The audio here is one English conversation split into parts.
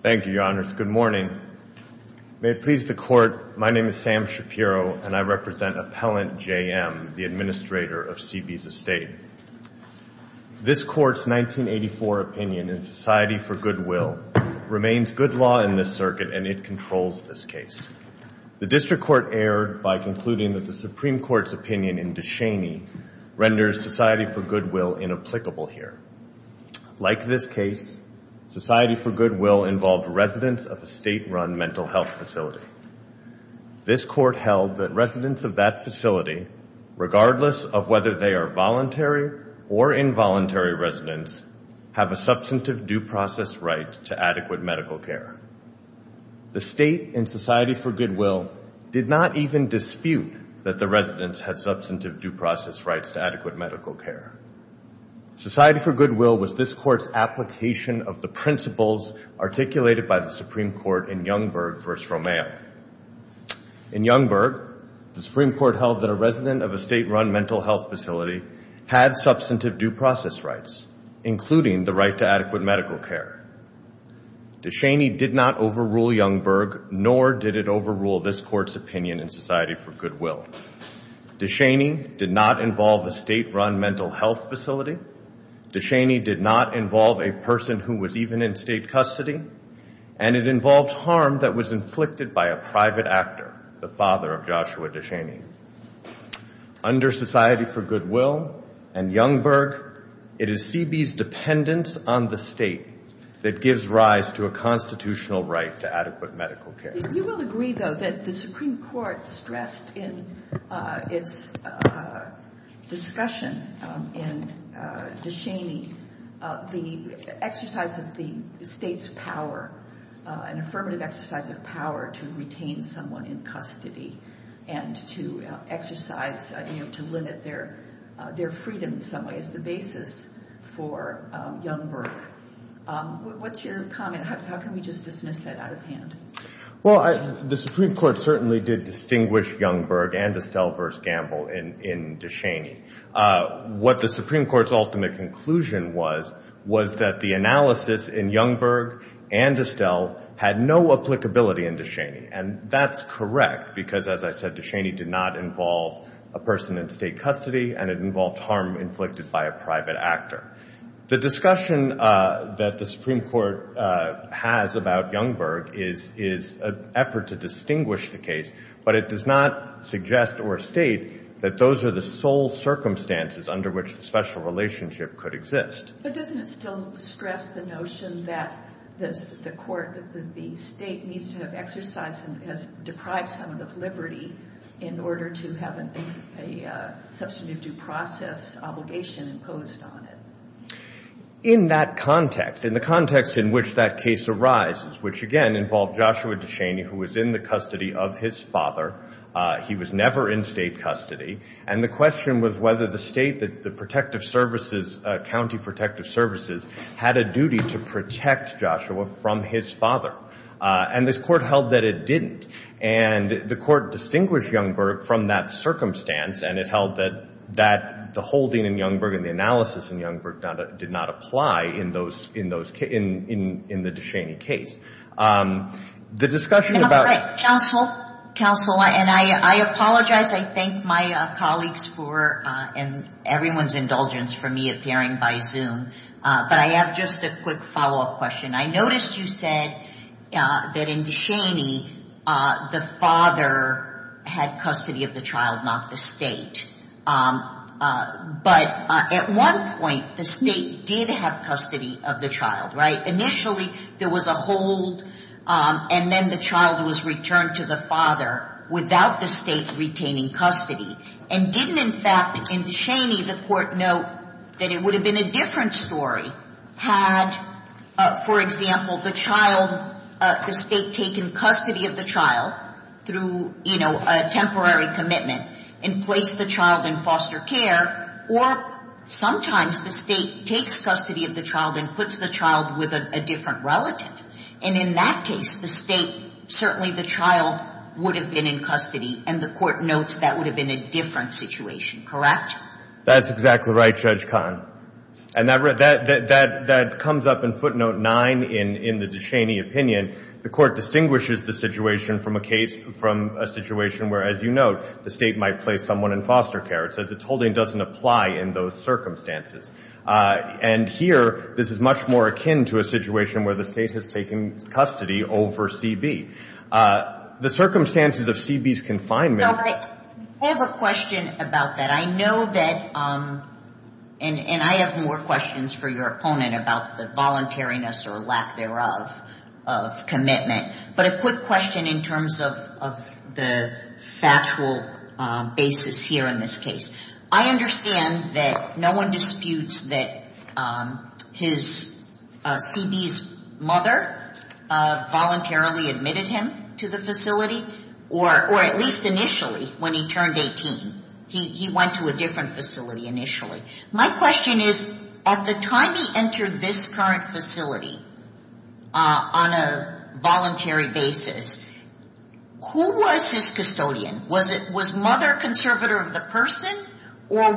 Thank you, Your Honors. Good morning. May it please the Court, my name is Sam Shapiro and I represent Appellant J.M., the Administrator of Seabees Estate. This Court's 1984 opinion in Society for Goodwill remains good law in this circuit and it controls this case. The District Court erred by concluding that the Supreme Court's opinion in DeShaney renders Society for Goodwill inapplicable here. Like this case, Society for Goodwill involved residents of a state-run mental health facility. This Court held that residents of that facility, regardless of whether they are voluntary or involuntary residents, have a substantive due process right to adequate medical care. The State in Society for Goodwill did not even dispute that the residents had substantive due process rights to adequate medical care. Society for Goodwill was this Court's application of the principles articulated by the Supreme Court in Youngberg v. Romero. In Youngberg, the Supreme Court held that a resident of a state-run mental health facility had substantive due process rights, including the right to adequate medical care. DeShaney did not overrule Youngberg, nor did it overrule this Court's opinion in Society for Goodwill. DeShaney did not involve a state-run mental health facility. DeShaney did not involve a person who was even in state custody. And it involved harm that was inflicted by a private actor, the father of Joshua DeShaney. Under Society for Goodwill and Youngberg, it is CB's dependence on the state that gives rise to a constitutional right to adequate medical care. You will agree, though, that the Supreme Court stressed in its discussion in DeShaney, the exercise of the state's power, an affirmative exercise of power to retain someone in custody and to exercise, you know, to limit their freedom in some ways, the basis for Youngberg. What's your comment? How can we just dismiss that out of hand? Well, the Supreme Court certainly did distinguish Youngberg and Estelle v. Gamble in DeShaney. What the Supreme Court's ultimate conclusion was, was that the analysis in Youngberg and Estelle had no applicability in DeShaney. And that's correct, because as I said, DeShaney did not involve a person in state custody, and it involved harm inflicted by a private actor. The discussion that the Supreme Court has about Youngberg is an effort to distinguish the case, but it does not suggest or state that those are the sole circumstances under which the special relationship could exist. But doesn't it still stress the notion that the state needs to have exercised and has deprived someone of liberty in order to have a substantive due process obligation imposed on it? In that context, in the context in which that case arises, which again involved Joshua DeShaney, who was in the custody of his father. He was never in state custody. And the question was whether the state, the protective services, county protective services, had a duty to protect Joshua from his father. And this Court held that it didn't. And the Court distinguished Youngberg from that circumstance, and it held that the holding in Youngberg and the analysis in Youngberg did not apply in the DeShaney case. The discussion about- All right. Counsel. Counsel, and I apologize. I thank my colleagues for and everyone's indulgence for me appearing by Zoom, but I have just a quick follow-up question. I noticed you said that in DeShaney, the father had custody of the child, not the state. But at one point, the state did have custody of the child, right? Initially, there was a hold, and then the child was returned to the father without the state retaining custody, and didn't, in fact, in DeShaney, the Court note that it would have been a different story had, for example, the child, the state taken custody of the child through, you know, a temporary commitment and placed the child in foster care, or sometimes the state takes custody of the child and puts the child with a different relative. And in that case, the state, certainly the child would have been in custody, and the Court notes that would have been a different situation, correct? That's exactly right, Judge Kahn. And that comes up in footnote 9 in the DeShaney opinion. The Court distinguishes the situation from a case, from a situation where, as you note, the state might place someone in foster care. It says its holding doesn't apply in those circumstances. And here, this is much more akin to a situation where the state has taken custody over CB. The circumstances of CB's confinement – I have a question about that. I know that, and I have more questions for your opponent about the voluntariness or lack thereof of commitment. But a quick question in terms of the factual basis here in this case. I understand that no one disputes that CB's mother voluntarily admitted him to the facility, or at least initially, when he turned 18, he went to a different facility initially. My question is, at the time he entered this current facility on a voluntary basis, who was his custodian? Was mother conservator of the person, or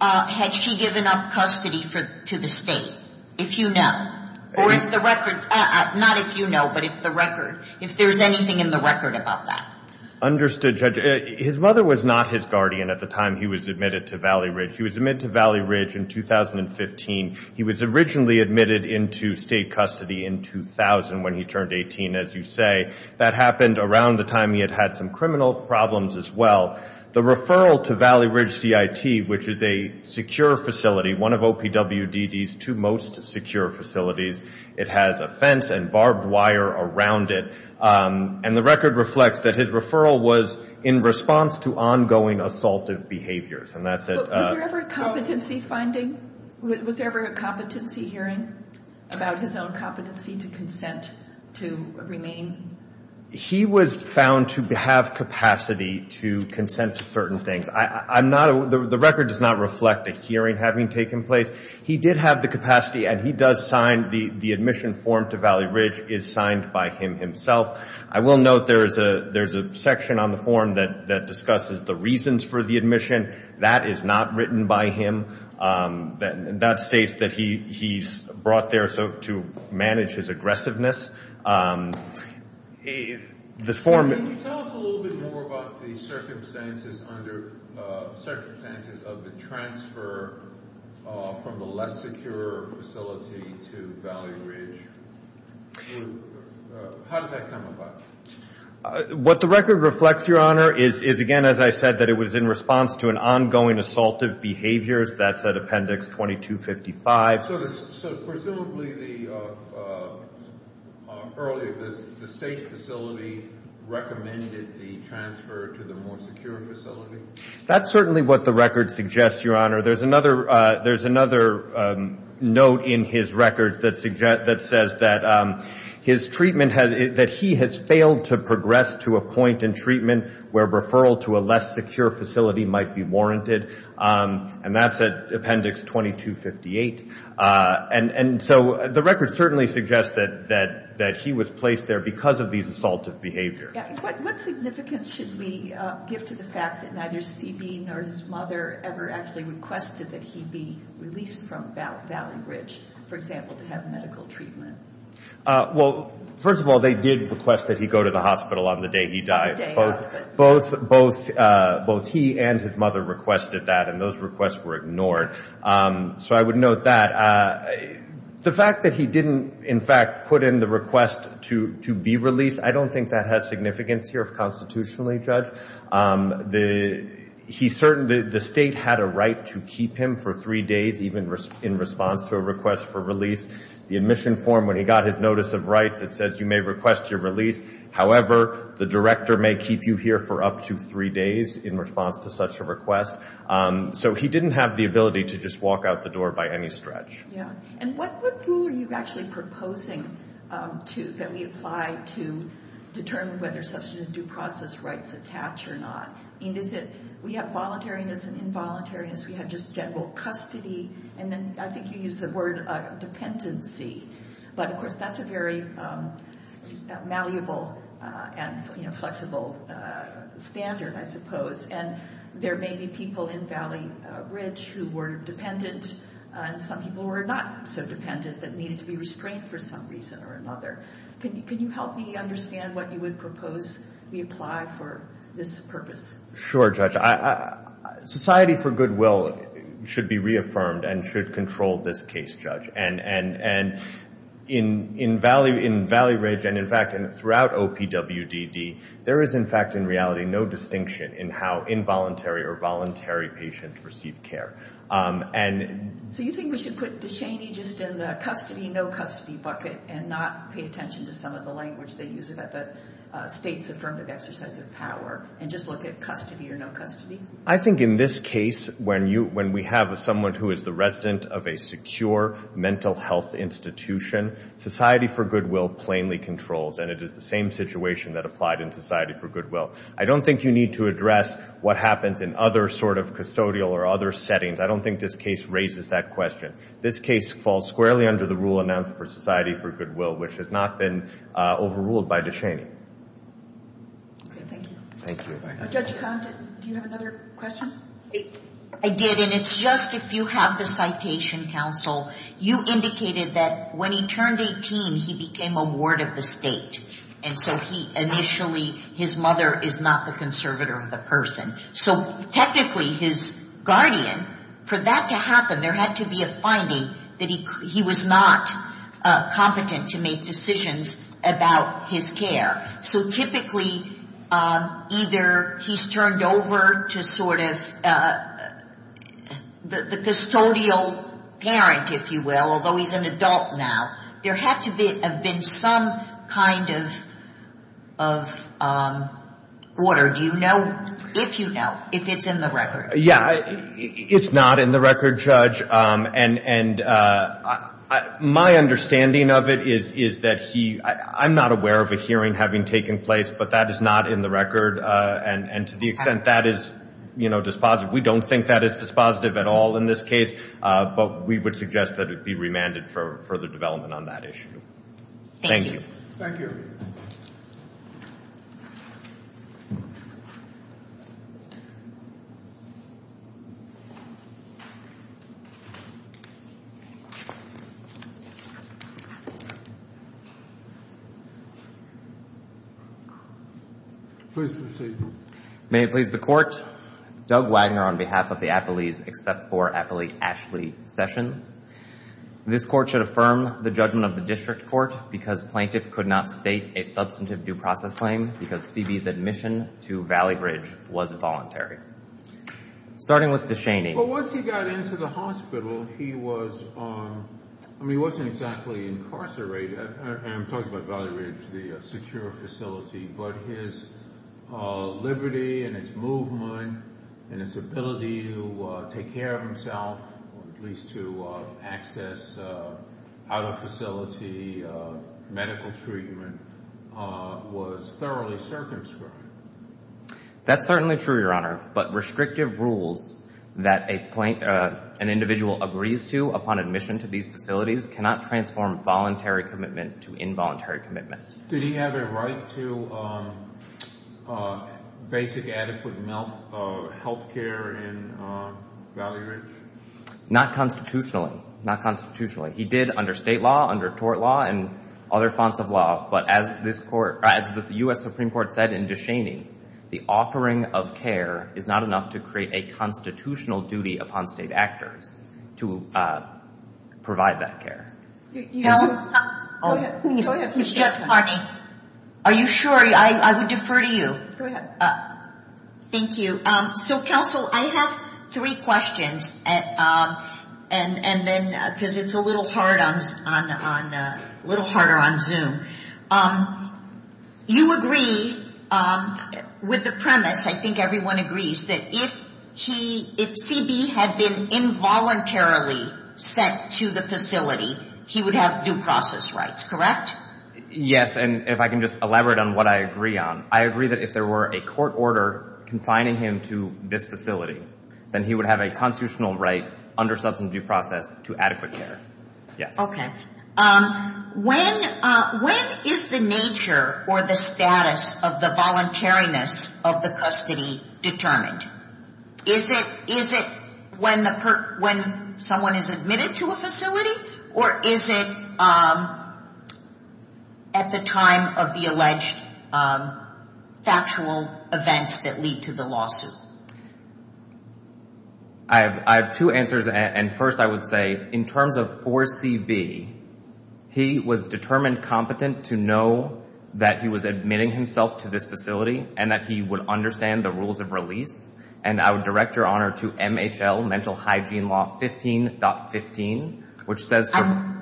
had she given up custody to the state, if you know? Or if the record – not if you know, but if there's anything in the record about that. Understood, Judge. His mother was not his guardian at the time he was admitted to Valley Ridge. He was admitted to Valley Ridge in 2015. He was originally admitted into state custody in 2000 when he turned 18, as you say. That happened around the time he had had some criminal problems as well. The referral to Valley Ridge CIT, which is a secure facility, one of OPWDD's two most secure facilities, it has a fence and barbed wire around it. And the record reflects that his referral was in response to ongoing assaultive behaviors, and that's it. Was there ever a competency hearing about his own competency to consent to remain? He was found to have capacity to consent to certain things. The record does not reflect a hearing having taken place. He did have the capacity, and he does sign – the admission form to Valley Ridge is signed by him himself. I will note there's a section on the form that discusses the reasons for the admission. That is not written by him. That states that he's brought there to manage his aggressiveness. Can you tell us a little bit more about the circumstances of the transfer from the less secure facility to Valley Ridge? How did that come about? What the record reflects, Your Honor, is again, as I said, that it was in response to an ongoing assaultive behavior. That's at Appendix 2255. So presumably the – earlier, the state facility recommended the transfer to the more secure facility? That's certainly what the record suggests, Your Honor. There's another note in his record that says that his treatment – that he has failed to progress to a point in treatment where a referral to a less secure facility might be warranted. And that's at Appendix 2258. And so the record certainly suggests that he was placed there because of these assaultive behaviors. What significance should we give to the fact that neither C.B. nor his mother ever actually requested that he be released from Valley Ridge, for example, to have medical treatment? Well, first of all, they did request that he go to the hospital on the day he died. Both he and his mother requested that, and those requests were ignored. So I would note that. The fact that he didn't, in fact, put in the request to be released, I don't think that has significance here constitutionally, Judge. The state had a right to keep him for three days even in response to a request for release. The admission form, when he got his notice of rights, it says you may request your release. However, the director may keep you here for up to three days in response to such a request. So he didn't have the ability to just walk out the door by any stretch. Yeah. And what rule are you actually proposing that we apply to determine whether substantive due process rights attach or not? I mean, is it we have voluntariness and involuntariness, we have just general custody, and then I think you used the word dependency. But of course, that's a very malleable and, you know, flexible standard, I suppose. And there may be people in Valley Ridge who were dependent, and some people were not so dependent but needed to be restrained for some reason or another. Can you help me understand what you would propose we apply for this purpose? Sure, Judge. Society for goodwill should be reaffirmed and should control this case, Judge. And in Valley Ridge, and in fact, throughout OPWDD, there is, in fact, in reality, no distinction in how involuntary or voluntary patients receive care. So you think we should put Deshaney just in the custody, no custody bucket and not pay attention to some of the language they use about the state's affirmative exercise of power and just look at custody or no custody? I think in this case, when we have someone who is the resident of a secure mental health institution, society for goodwill plainly controls, and it is the same situation that applied in society for goodwill. I don't think you need to address what happens in other sort of custodial or other settings. I don't think this case raises that question. This case falls squarely under the rule announced for society for goodwill, which has not been overruled by Deshaney. Thank you. Thank you. Judge Condon, do you have another question? I did, and it's just if you have the citation, counsel. You indicated that when he turned 18, he became a ward of the state, and so he initially, his mother is not the conservator of the person. So technically, his guardian, for that to happen, there had to be a finding that he was not competent to make decisions about his care. So typically, either he's turned over to sort of the custodial parent, if you will, although he's an adult now, there had to have been some kind of order. Do you know, if you know, if it's in the record? Yeah. It's not in the record, Judge, and my understanding of it is that he, I'm not aware of a hearing having taken place, but that is not in the record, and to the extent that is dispositive, we don't think that is dispositive at all in this case, but we would suggest that it be remanded for further development on that issue. Thank you. Thank you. Please proceed. May it please the Court, Doug Wagner on behalf of the Appellees, except for Appellee Ashley Sessions. This Court should affirm the judgment of the District Court because plaintiff could not state a substantive due process claim because CB's admission to Valley Ridge was voluntary. Starting with DeShaney. Well, once he got into the hospital, he was, I mean, he wasn't exactly incarcerated, and I'm talking about Valley Ridge, the secure facility, but his liberty and his movement and his ability to take care of himself, at least to access out of facility medical treatment, was thoroughly circumscribed. That's certainly true, Your Honor, but restrictive rules that an individual agrees to upon admission to these facilities cannot transform voluntary commitment to involuntary commitment. Did he have a right to basic, adequate health care in Valley Ridge? Not constitutionally, not constitutionally. He did under state law, under tort law, and other fonts of law, but as the U.S. Supreme Court said in DeShaney, the offering of care is not enough to create a constitutional duty upon state actors to provide that care. Go ahead. Go ahead. Ms. Jeff Harney. Are you sure? I would defer to you. Go ahead. Thank you. So, counsel, I have three questions, and then, because it's a little harder on Zoom, you agree with the premise, I think everyone agrees, that if he, if C.B. had been involuntarily sent to the facility, he would have due process rights, correct? Yes, and if I can just elaborate on what I agree on, I agree that if there were a court order confining him to this facility, then he would have a constitutional right under substance of due process to adequate care, yes. Okay. When is the nature or the status of the voluntariness of the custody determined? Is it when someone is admitted to a facility, or is it at the time of the alleged factual events that lead to the lawsuit? I have two answers, and first I would say, in terms of for C.B., he was determined competent to know that he was admitting himself to this facility, and that he would understand the rules of release, and I would direct your honor to MHL Mental Hygiene Law 15.15, which says... I'm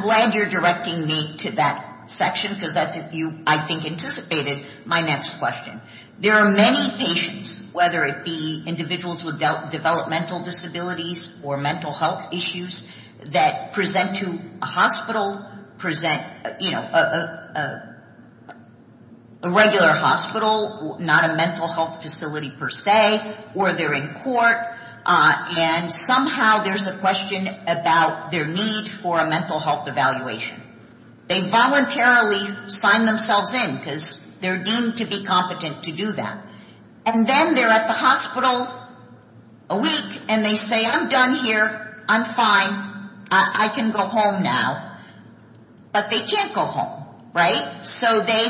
glad you're directing me to that section, because that's if you, I think, anticipated my next question. There are many patients, whether it be individuals with developmental disabilities or mental health issues, that present to a hospital, a regular hospital, not a mental health facility per se, or they're in court, and somehow there's a question about their need for a mental health evaluation. They voluntarily sign themselves in, because they're deemed to be competent to do that. And then they're at the hospital a week, and they say, I'm done here, I'm fine, I can go home now. But they can't go home, right? So they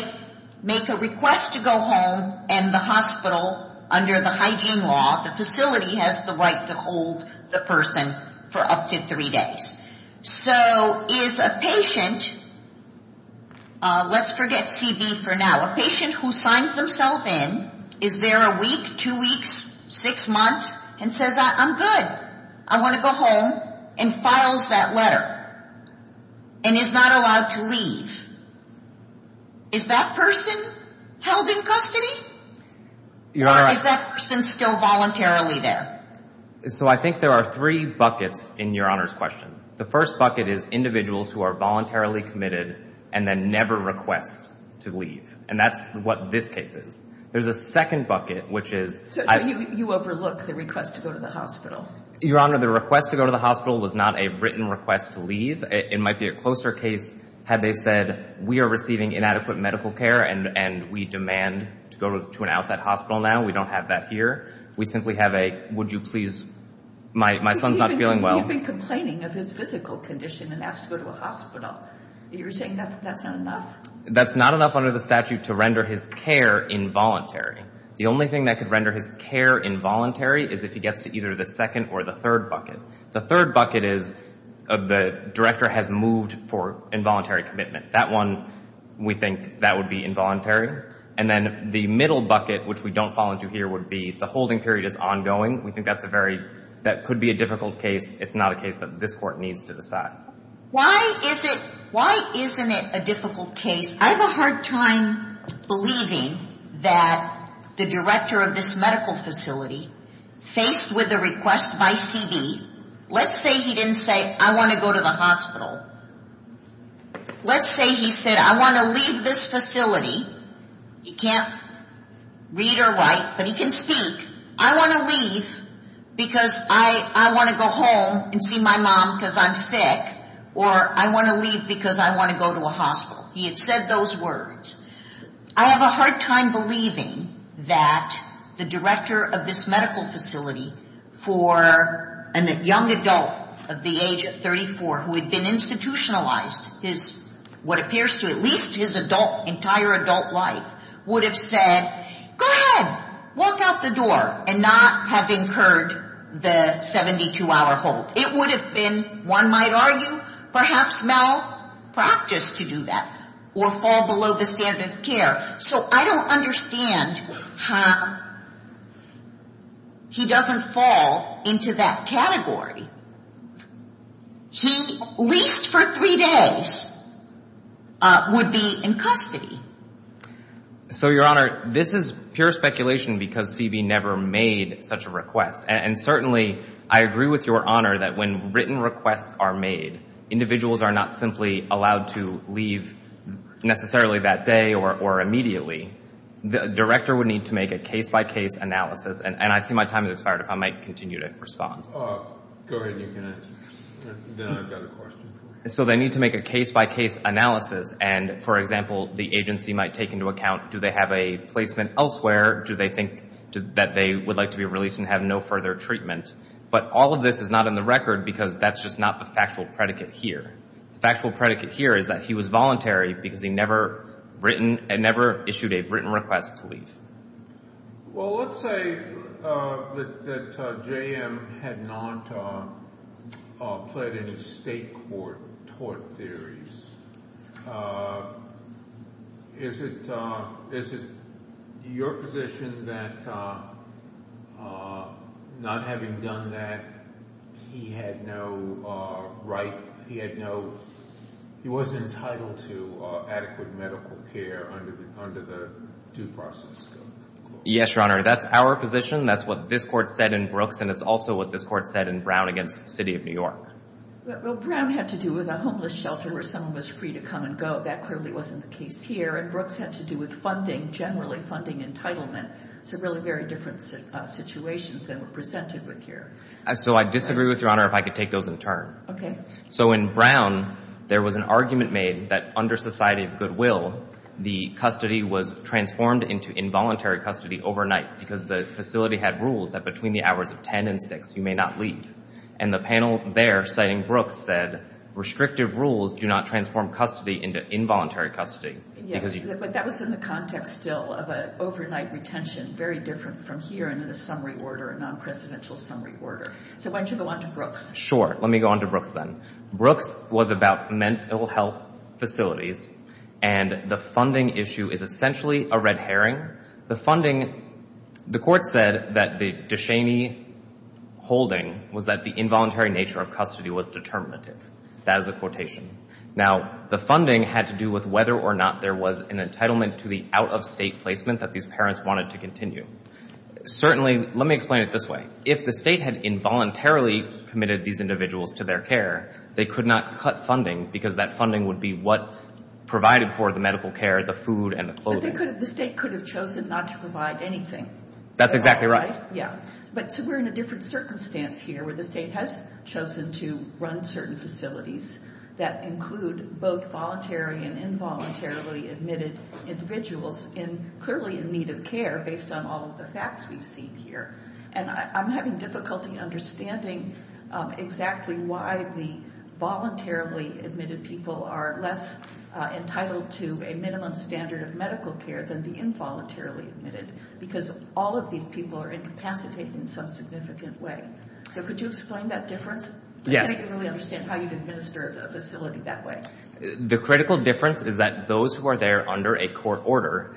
make a request to go home, and the hospital, under the hygiene law, the facility has the right to hold the person for up to three days. So is a patient, let's forget CB for now, a patient who signs themselves in, is there a week, two weeks, six months, and says, I'm good, I want to go home, and files that letter, and is not allowed to leave. Is that person held in custody, or is that person still voluntarily there? So I think there are three buckets in Your Honor's question. The first bucket is individuals who are voluntarily committed, and then never request to leave. And that's what this case is. There's a second bucket, which is... You overlook the request to go to the hospital. Your Honor, the request to go to the hospital was not a written request to leave. It might be a closer case had they said, we are receiving inadequate medical care, and we demand to go to an outside hospital now, we don't have that here. We simply have a, would you please, my son's not feeling well. You've been complaining of his physical condition and asked to go to a hospital. You're saying that's not enough? That's not enough under the statute to render his care involuntary. The only thing that could render his care involuntary is if he gets to either the second or the third bucket. The third bucket is, the director has moved for involuntary commitment. That one, we think that would be involuntary. And then the middle bucket, which we don't fall into here, would be the holding period is ongoing. We think that's a very, that could be a difficult case. It's not a case that this court needs to decide. Why is it, why isn't it a difficult case? I have a hard time believing that the director of this medical facility, faced with a request by CB, let's say he didn't say, I want to go to the hospital. Let's say he said, I want to leave this facility. He can't read or write, but he can speak. I want to leave because I want to go home and see my mom because I'm sick, or I want to leave because I want to go to a hospital. He had said those words. I have a hard time believing that the director of this medical facility for a young adult of the age of 34 who had been institutionalized his, what appears to at least his adult, entire adult life, would have said, go ahead, walk out the door, and not have incurred the 72-hour hold. It would have been, one might argue, perhaps malpractice to do that or fall below the standard of care. So I don't understand how he doesn't fall into that category. He, at least for three days, would be in custody. So Your Honor, this is pure speculation because CB never made such a request, and certainly I agree with Your Honor that when written requests are made, individuals are not simply allowed to leave necessarily that day or immediately. The director would need to make a case-by-case analysis, and I see my time has expired, if I might continue to respond. So they need to make a case-by-case analysis, and for example, the agency might take into account do they have a placement elsewhere, do they think that they would like to be released and have no further treatment. But all of this is not in the record because that's just not the factual predicate here. The factual predicate here is that he was voluntary because he never issued a written request to leave. Well, let's say that J.M. had not pled in his state court tort theories. Is it your position that not having done that, he had no right, he had no, he wasn't entitled to adequate medical care under the due process? Yes, Your Honor, that's our position. That's what this Court said in Brooks, and it's also what this Court said in Brown against the City of New York. Well, Brown had to do with a homeless shelter where someone was free to come and go. That clearly wasn't the case here, and Brooks had to do with funding, generally funding entitlement. So really very different situations than were presented with here. So I disagree with Your Honor if I could take those in turn. So in Brown, there was an argument made that under society of goodwill, the custody was transformed into involuntary custody overnight because the facility had rules that between the hours of 10 and 6, you may not leave. And the panel there, citing Brooks, said restrictive rules do not transform custody into involuntary custody. Yes, but that was in the context still of an overnight retention, very different from here and in a summary order, a non-presidential summary order. So why don't you go on to Brooks? Sure. Let me go on to Brooks then. Brooks was about mental health facilities, and the funding issue is essentially a red herring. Here, the funding, the court said that the DeShaney holding was that the involuntary nature of custody was determinative. That is a quotation. Now, the funding had to do with whether or not there was an entitlement to the out-of-state placement that these parents wanted to continue. Certainly, let me explain it this way. If the state had involuntarily committed these individuals to their care, they could not cut funding because that funding would be what provided for the medical care, the food and the clothing. The state could have chosen not to provide anything. That's exactly right. Yeah. But we're in a different circumstance here where the state has chosen to run certain facilities that include both voluntary and involuntarily admitted individuals clearly in need of care based on all of the facts we've seen here. I'm having difficulty understanding exactly why the voluntarily admitted people are less entitled to a minimum standard of medical care than the involuntarily admitted because all of these people are incapacitated in some significant way. So, could you explain that difference? Yes. I don't really understand how you'd administer a facility that way. The critical difference is that those who are there under a court order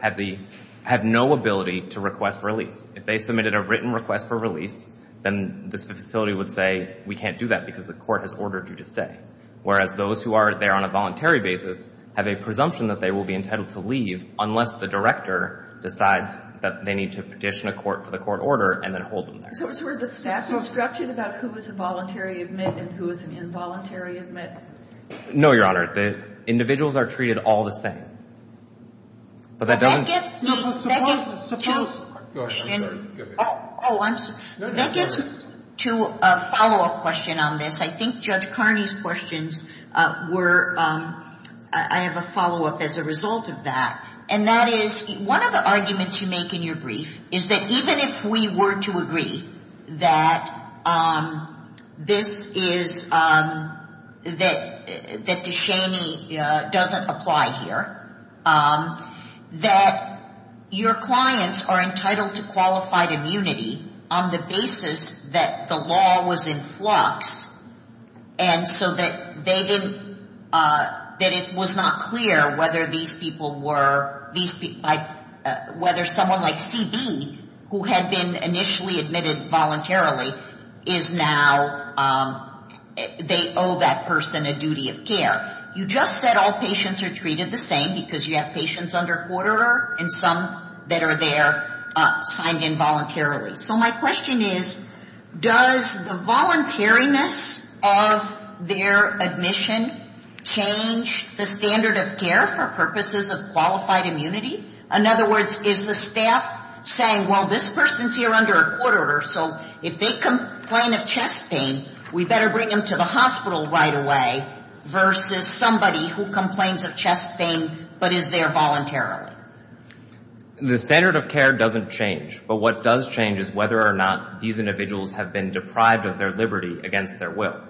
have no ability to request release. If they submitted a written request for release, then this facility would say, we can't do that because the court has ordered you to stay. Whereas those who are there on a voluntary basis have a presumption that they will be entitled to leave unless the director decides that they need to petition a court for the court order and then hold them there. So, it's where the staff is structured about who is a voluntary admit and who is an involuntary admit? No, Your Honor. The individuals are treated all the same. But that doesn't... But that gets me... No, but suppose... Go ahead. Go ahead. Oh, I'm sorry. That gets me to a follow-up question on this. I think Judge Carney's questions were... I have a follow-up as a result of that. And that is, one of the arguments you make in your brief is that even if we were to agree that this is, that Deshaney doesn't apply here, that your clients are entitled to qualified and so that they didn't, that it was not clear whether these people were, whether someone like CB, who had been initially admitted voluntarily, is now, they owe that person a duty of care. You just said all patients are treated the same because you have patients under court order and some that are there signed in voluntarily. So my question is, does the voluntariness of their admission change the standard of care for purposes of qualified immunity? In other words, is the staff saying, well, this person's here under a court order, so if they complain of chest pain, we better bring them to the hospital right away, versus somebody who complains of chest pain but is there voluntarily? The standard of care doesn't change. But what does change is whether or not these individuals have been deprived of their liberty against their will.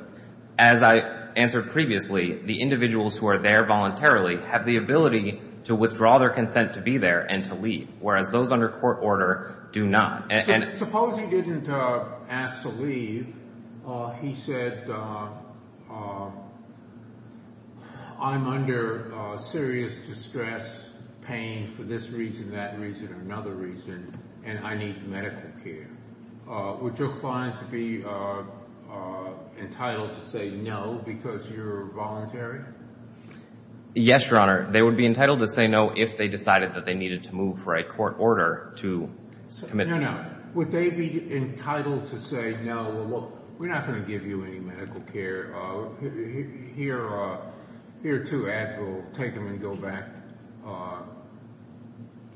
As I answered previously, the individuals who are there voluntarily have the ability to withdraw their consent to be there and to leave, whereas those under court order do not. So suppose he didn't ask to leave, he said, I'm under serious distress, pain for this reason, that reason, another reason, and I need medical care. Would your client be entitled to say no because you're voluntary? Yes, Your Honor. They would be entitled to say no if they decided that they needed to move for a court order to commit pain. Would they be entitled to say, no, well, look, we're not going to give you any medical care. Here are two ads, we'll take them and go back,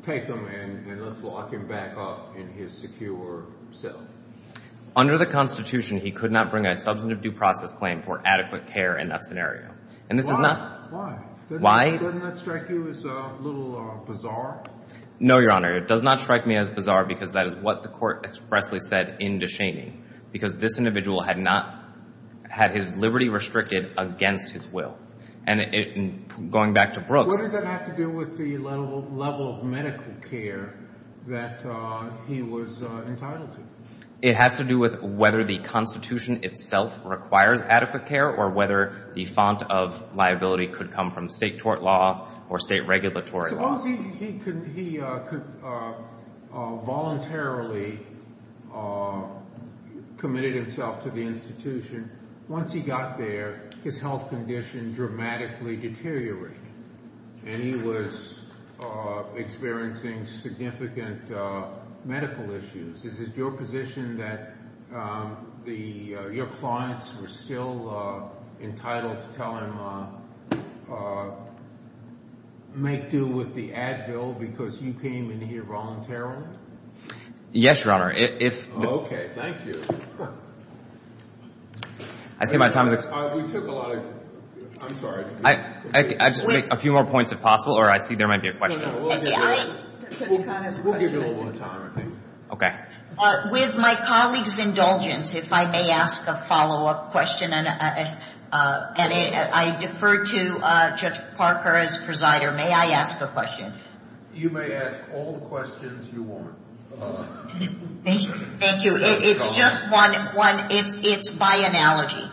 take them and let's lock him back up in his secure cell. Under the Constitution, he could not bring a substantive due process claim for adequate care in that scenario. Why? Why? Doesn't that strike you as a little bizarre? No, Your Honor. It does not strike me as bizarre because that is what the court expressly said in Descheny, because this individual had not, had his liberty restricted against his will. And going back to Brooks — What does that have to do with the level of medical care that he was entitled to? It has to do with whether the Constitution itself requires adequate care or whether the font of liability could come from state tort law or state regulatory law. Suppose he voluntarily committed himself to the institution. Once he got there, his health condition dramatically deteriorated and he was experiencing significant medical issues. Is it your position that your clients were still entitled to tell him, make due with the Advil because you came in here voluntarily? Yes, Your Honor. If — Oh, okay. Thank you. I see my time is up. We took a lot of — I'm sorry. I'll just make a few more points if possible, or I see there might be a question. We'll give you a little more time, I think. Okay. With my colleague's indulgence, if I may ask a follow-up question. And I defer to Judge Parker as presider. May I ask a question? You may ask all the questions you want. Thank you. It's just one. It's by analogy.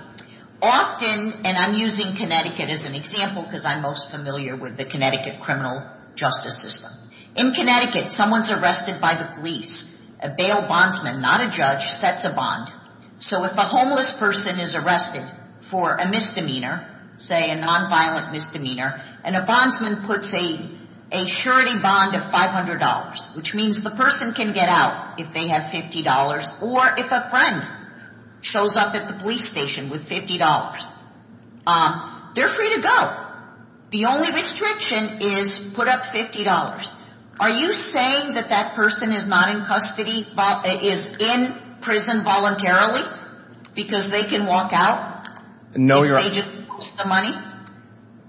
Often, and I'm using Connecticut as an example because I'm most familiar with the Connecticut criminal justice system. In Connecticut, someone's arrested by the police. A bail bondsman, not a judge, sets a bond. So if a homeless person is arrested for a misdemeanor, say a nonviolent misdemeanor, and a bondsman puts a surety bond of $500, which means the person can get out if they have $50, or if a friend shows up at the police station with $50, they're free to go. The only restriction is put up $50. Are you saying that that person is not in custody — is in prison voluntarily because they can walk out? No, Your Honor — If they just lost the money?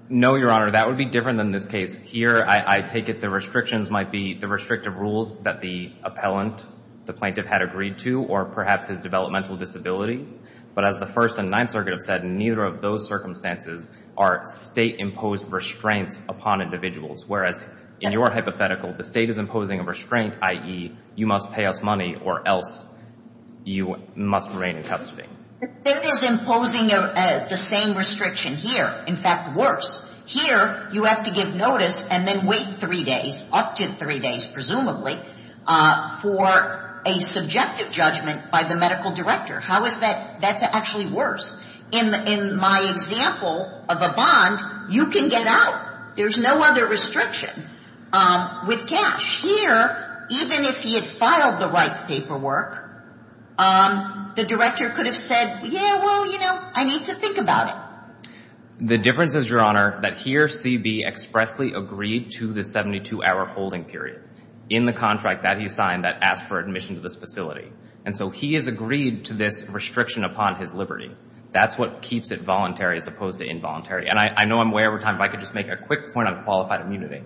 No, Your Honor. That would be different than this case here. I take it the restrictions might be the restrictive rules that the appellant, the plaintiff, had agreed to, or perhaps his developmental disabilities. But as the First and Ninth Circuit have said, neither of those circumstances are state-imposed restraints upon individuals, whereas in your hypothetical, the state is imposing a restraint, i.e., you must pay us money or else you must remain in custody. The state is imposing the same restriction here, in fact, worse. Here, you have to give notice and then wait three days, up to three days presumably, for a subjective judgment by the medical director. How is that — that's actually worse. In my example of a bond, you can get out. There's no other restriction with cash. Here, even if he had filed the right paperwork, the director could have said, yeah, well, you know, I need to think about it. The difference is, Your Honor, that here, C.B. expressly agreed to the 72-hour holding period in the contract that he signed that asked for admission to this facility. And so he has agreed to this restriction upon his liberty. That's what keeps it voluntary as opposed to involuntary. And I know I'm way over time, but I could just make a quick point on qualified immunity.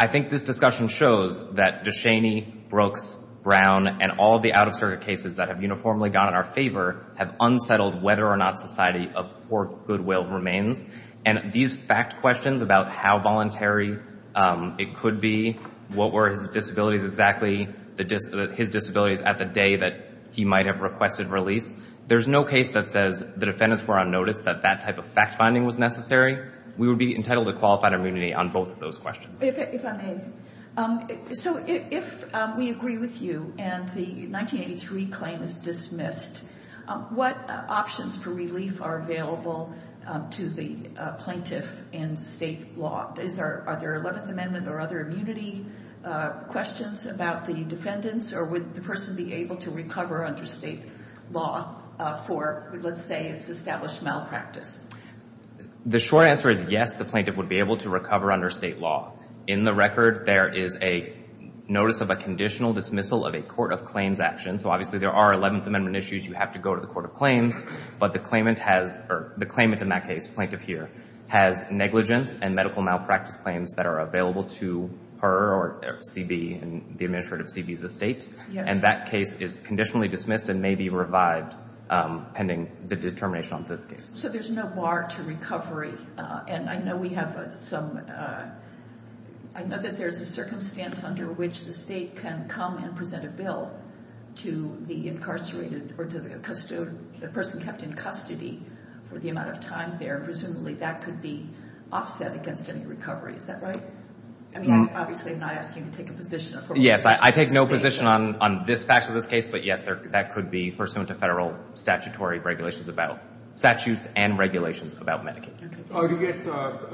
I think this discussion shows that DeShaney, Brooks, Brown, and all the out-of-circuit cases that have uniformly gone in our favor have unsettled whether or not society of poor goodwill remains. And these fact questions about how voluntary it could be, what were his disabilities exactly, his disabilities at the day that he might have requested release, there's no case that says the defendants were on notice that that type of fact-finding was necessary. We would be entitled to qualified immunity on both of those questions. If I may, so if we agree with you and the 1983 claim is dismissed, what options for relief are available to the plaintiff in state law? Are there 11th Amendment or other immunity questions about the defendants, or would the person be able to recover under state law for, let's say, it's established malpractice? The short answer is yes, the plaintiff would be able to recover under state law. In the record, there is a notice of a conditional dismissal of a court of claims action. So obviously there are 11th Amendment issues, you have to go to the court of claims. But the claimant has, or the claimant in that case, plaintiff here, has negligence and medical malpractice claims that are available to her or CB, the administrative CB of the state, and that case is conditionally dismissed and may be revived pending the determination on this case. So there's no bar to recovery, and I know we have some, I know that there's a circumstance under which the state can come and present a bill to the incarcerated, or to the person kept in custody for the amount of time there, presumably that could be offset against any recovery, is that right? I mean, obviously I'm not asking you to take a position. Yes, I take no position on this fact of this case, but yes, that could be pursuant to federal statutory regulations about, statutes and regulations about Medicaid. Oh, do you get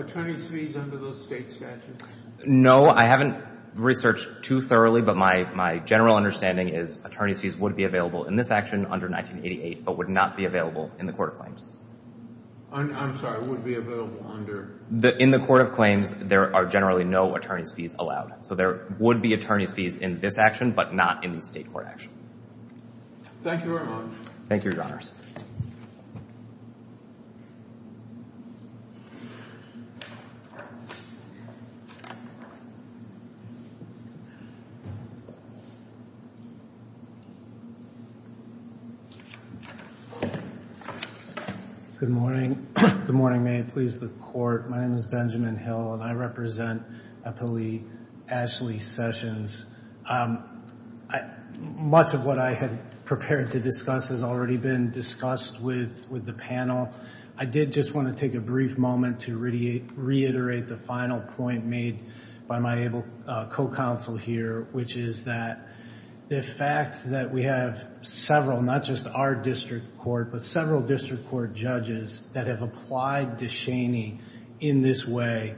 attorney's fees under those state statutes? No, I haven't researched too thoroughly, but my general understanding is attorney's fees would be available in this action under 1988, but would not be available in the court of claims. I'm sorry, would be available under? In the court of claims, there are generally no attorney's fees allowed. So there would be attorney's fees in this action, but not in the state court action. Thank you very much. Thank you, Your Honors. Good morning. Good morning. May it please the court. My name is Benjamin Hill and I represent Appellee Ashley Sessions. Much of what I had prepared to discuss has already been discussed with the panel. I did just want to take a brief moment to reiterate the final point made by my co-counsel here, which is that the fact that we have several, not just our district court, but several district court judges that have applied to Cheney in this way,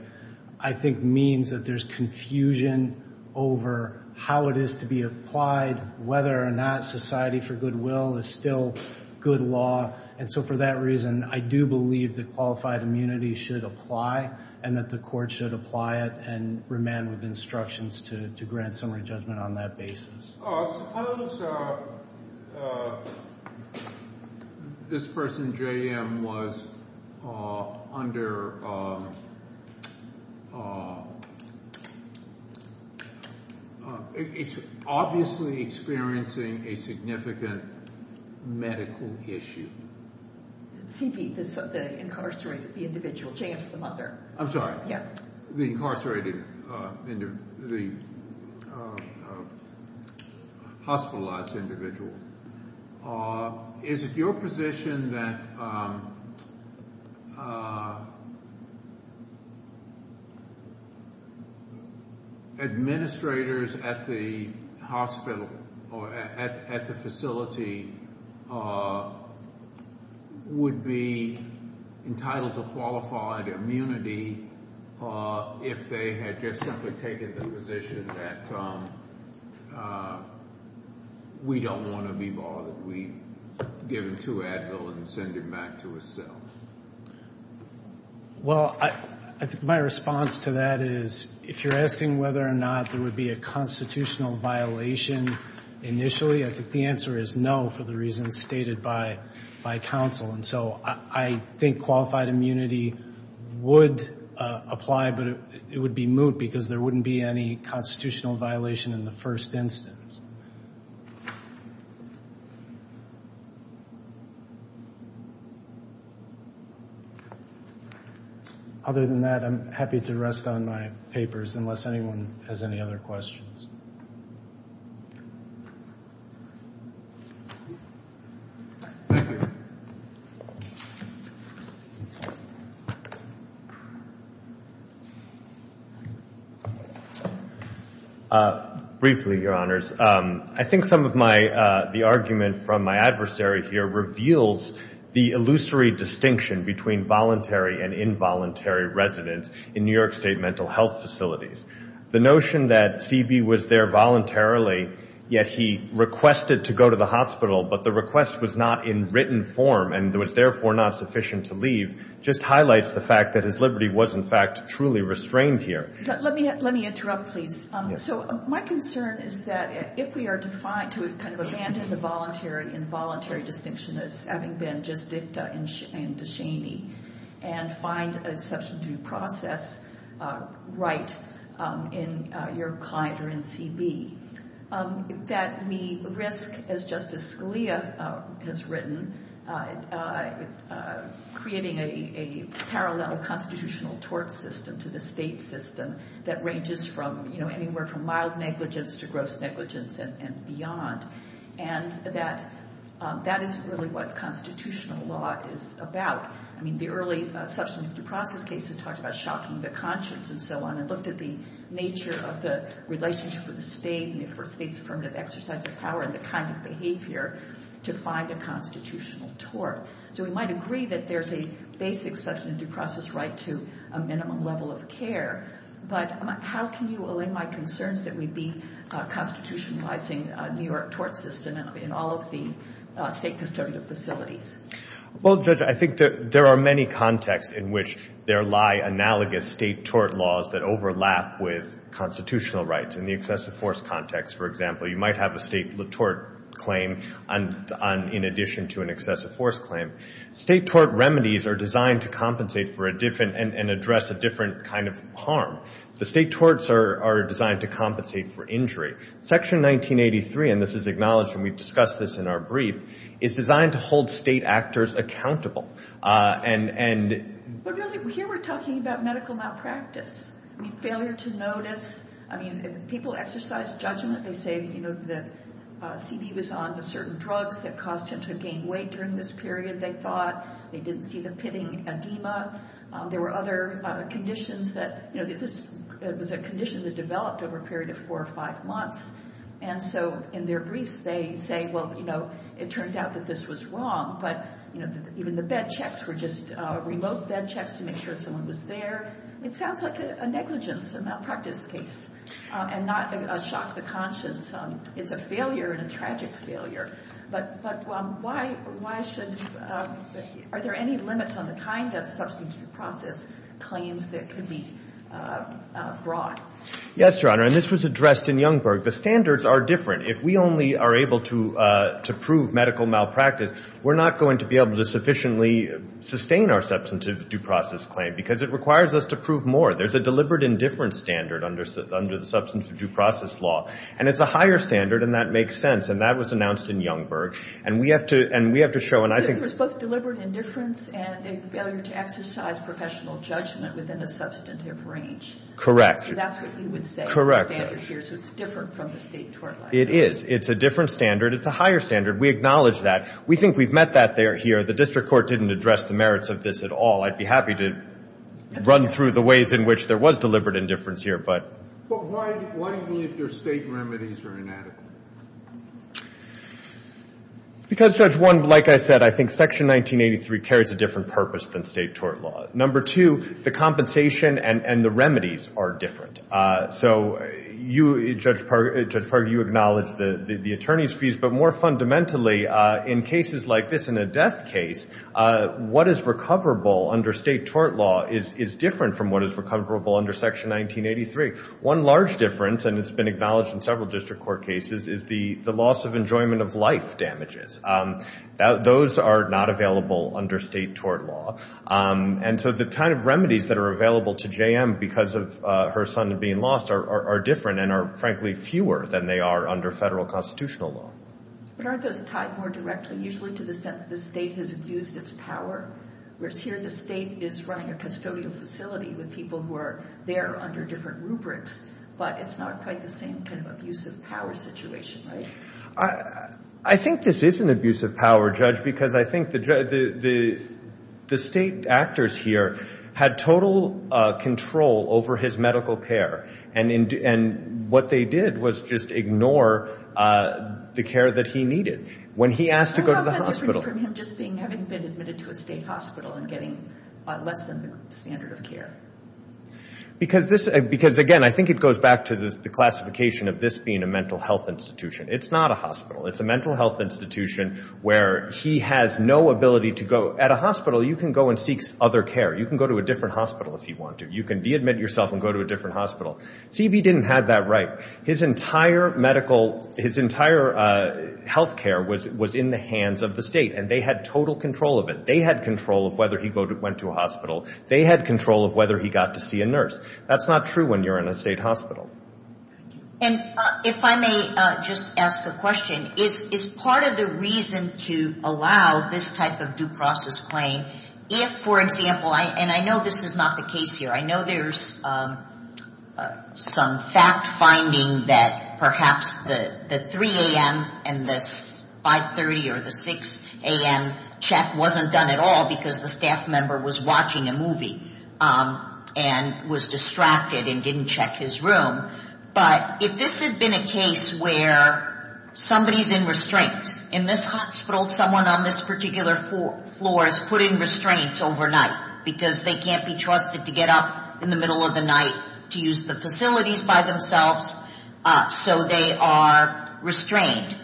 I think means that there's confusion over how it is to be applied, whether or not society for goodwill is still good law. And so for that reason, I do believe that qualified immunity should apply and that the court should apply it and remand with instructions to grant summary judgment on that basis. I suppose this person, JM, was under, it's obviously experiencing a significant medical issue. CP, the incarcerated, the individual, JM's the mother. I'm sorry. Yeah. The incarcerated, the hospitalized individual. Is it your position that administrators at the hospital or at the facility would be entitled to qualified immunity if they had just simply taken the position that we don't want to be bothered, we give him to Advil and send him back to his cell? Well, I think my response to that is, if you're asking whether or not there would be a constitutional violation initially, I think the answer is no for the reasons stated by counsel. And so I think qualified immunity would apply, but it would be moot because there wouldn't be any constitutional violation in the first instance. Other than that, I'm happy to rest on my papers unless anyone has any other questions. Thank you. Briefly, Your Honors. I think some of the argument from my adversary here reveals the illusory distinction between voluntary and involuntary residence in New York State mental health facilities. The notion that CB was there voluntarily, yet he requested to go to the hospital, but the request was not in written form and was therefore not sufficient to leave, just highlights the fact that his liberty was, in fact, truly restrained here. Let me interrupt, please. So my concern is that if we are to kind of abandon the voluntary and involuntary distinction as having been just dicta and to shamee and find a substantive process right in your client or in CB, that we risk, as Justice Scalia has written, creating a parallel constitutional tort system to the state system that ranges from, you know, anywhere from mild negligence to gross negligence and beyond. And that is really what constitutional law is about. I mean, the early substantive process cases talked about shocking the conscience and so on and looked at the nature of the relationship for the state and for a state's affirmative exercise of power and the kind of behavior to find a constitutional tort. So we might agree that there's a basic substantive process right to a minimum level of care, but how can you align my concerns that we be constitutionalizing a New York tort system in all of the state custodial facilities? Well, Judge, I think there are many contexts in which there lie analogous state tort laws that overlap with constitutional rights. In the excessive force context, for example, you might have a state tort claim in addition to an excessive force claim. State tort remedies are designed to compensate for a different and address a different kind of harm. The state torts are designed to compensate for injury. Section 1983, and this is acknowledged when we've discussed this in our brief, is designed to hold state actors accountable. Here we're talking about medical malpractice. I mean, failure to notice. I mean, people exercise judgment. They say that C.B. was on certain drugs that caused him to gain weight during this period, they thought. They didn't see the pitting edema. There were other conditions that this was a condition that developed over a period of four or five months. And so in their briefs they say, well, you know, it turned out that this was wrong. But, you know, even the bed checks were just remote bed checks to make sure someone was there. It sounds like a negligence, a malpractice case, and not a shock to conscience. It's a failure and a tragic failure. But why should you – are there any limits on the kind of substantive process claims that could be brought? Yes, Your Honor, and this was addressed in Youngberg. The standards are different. If we only are able to prove medical malpractice, we're not going to be able to sufficiently sustain our substantive due process claim because it requires us to prove more. There's a deliberate indifference standard under the substantive due process law. And it's a higher standard, and that makes sense. And that was announced in Youngberg. And we have to – and we have to show – So there was both deliberate indifference and a failure to exercise professional judgment within a substantive range. Correct. So that's what you would say is the standard here. So it's different from the State tort law. It is. It's a different standard. It's a higher standard. We acknowledge that. We think we've met that here. The district court didn't address the merits of this at all. I'd be happy to run through the ways in which there was deliberate indifference here. But why do you believe your State remedies are inadequate? Because, Judge, one, like I said, I think Section 1983 carries a different purpose than State tort law. Number two, the compensation and the remedies are different. So, Judge Parker, you acknowledge the attorney's fees. But more fundamentally, in cases like this, in a death case, what is recoverable under State tort law is different from what is recoverable under Section 1983. One large difference, and it's been acknowledged in several district court cases, is the loss of enjoyment of life damages. Those are not available under State tort law. And so the kind of remedies that are available to J.M. because of her son being lost are different and are, frankly, fewer than they are under Federal constitutional law. But aren't those tied more directly usually to the sense that the State has abused its power? Whereas here the State is running a custodial facility with people who are there under different rubrics. But it's not quite the same kind of abusive power situation, right? I think this is an abusive power, Judge, because I think the State actors here had total control over his medical care. And what they did was just ignore the care that he needed. When he asked to go to the hospital. How is that different from him just having been admitted to a State hospital and getting less than the standard of care? Because, again, I think it goes back to the classification of this being a mental health institution. It's not a hospital. It's a mental health institution where he has no ability to go. At a hospital you can go and seek other care. You can go to a different hospital if you want to. You can de-admit yourself and go to a different hospital. C.B. didn't have that right. His entire medical, his entire health care was in the hands of the State. And they had total control of it. They had control of whether he went to a hospital. They had control of whether he got to see a nurse. That's not true when you're in a State hospital. And if I may just ask a question. Is part of the reason to allow this type of due process claim if, for example, and I know this is not the case here. I know there's some fact finding that perhaps the 3 a.m. and the 5.30 or the 6 a.m. check wasn't done at all because the staff member was watching a movie and was distracted and didn't check his room. But if this had been a case where somebody's in restraints. In this hospital someone on this particular floor is put in restraints overnight because they can't be trusted to get up in the middle of the night to use the facilities by themselves. So they are restrained.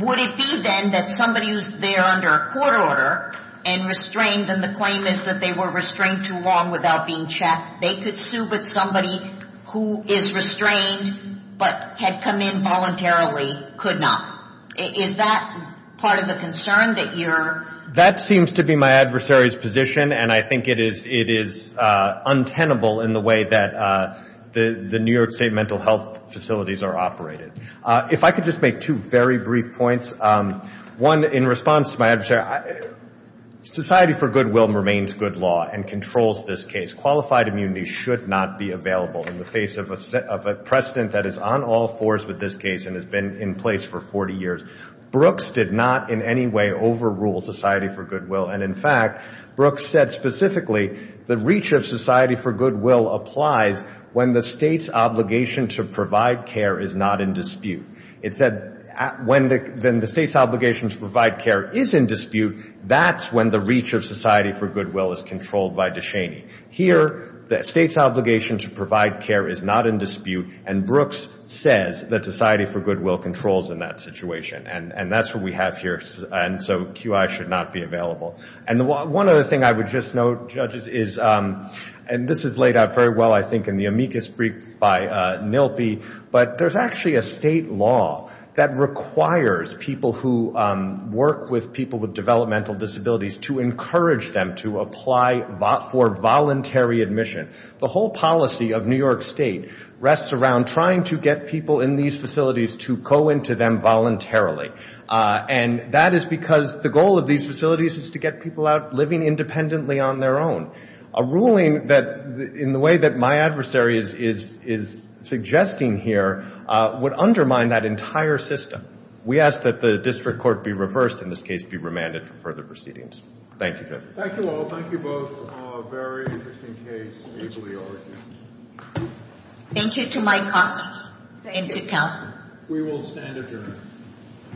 Would it be then that somebody who's there under a court order and restrained and the claim is that they were restrained too long without being checked. They could sue but somebody who is restrained but had come in voluntarily could not. Is that part of the concern that you're. That seems to be my adversary's position. And I think it is untenable in the way that the New York State mental health facilities are operated. If I could just make two very brief points. One in response to my adversary. Society for goodwill remains good law and controls this case. Qualified immunity should not be available in the face of a precedent that is on all fours with this case and has been in place for 40 years. Brooks did not in any way overrule society for goodwill. And in fact Brooks said specifically the reach of society for goodwill applies when the state's obligation to provide care is not in dispute. It said when the state's obligation to provide care is in dispute, that's when the reach of society for goodwill is controlled by DeShaney. Here the state's obligation to provide care is not in dispute and Brooks says that society for goodwill controls in that situation. And that's what we have here. And so QI should not be available. And one other thing I would just note, judges, is, and this is laid out very well I think in the amicus brief by Nilpi, but there's actually a state law that requires people who work with people with developmental disabilities to encourage them to apply for voluntary admission. The whole policy of New York State rests around trying to get people in these facilities to go into them voluntarily. And that is because the goal of these facilities is to get people out living independently on their own. A ruling that, in the way that my adversary is suggesting here, would undermine that entire system. We ask that the district court be reversed, in this case be remanded for further proceedings. Thank you. Thank you all. Thank you both. A very interesting case. Thank you to my colleagues. We will stand adjourned.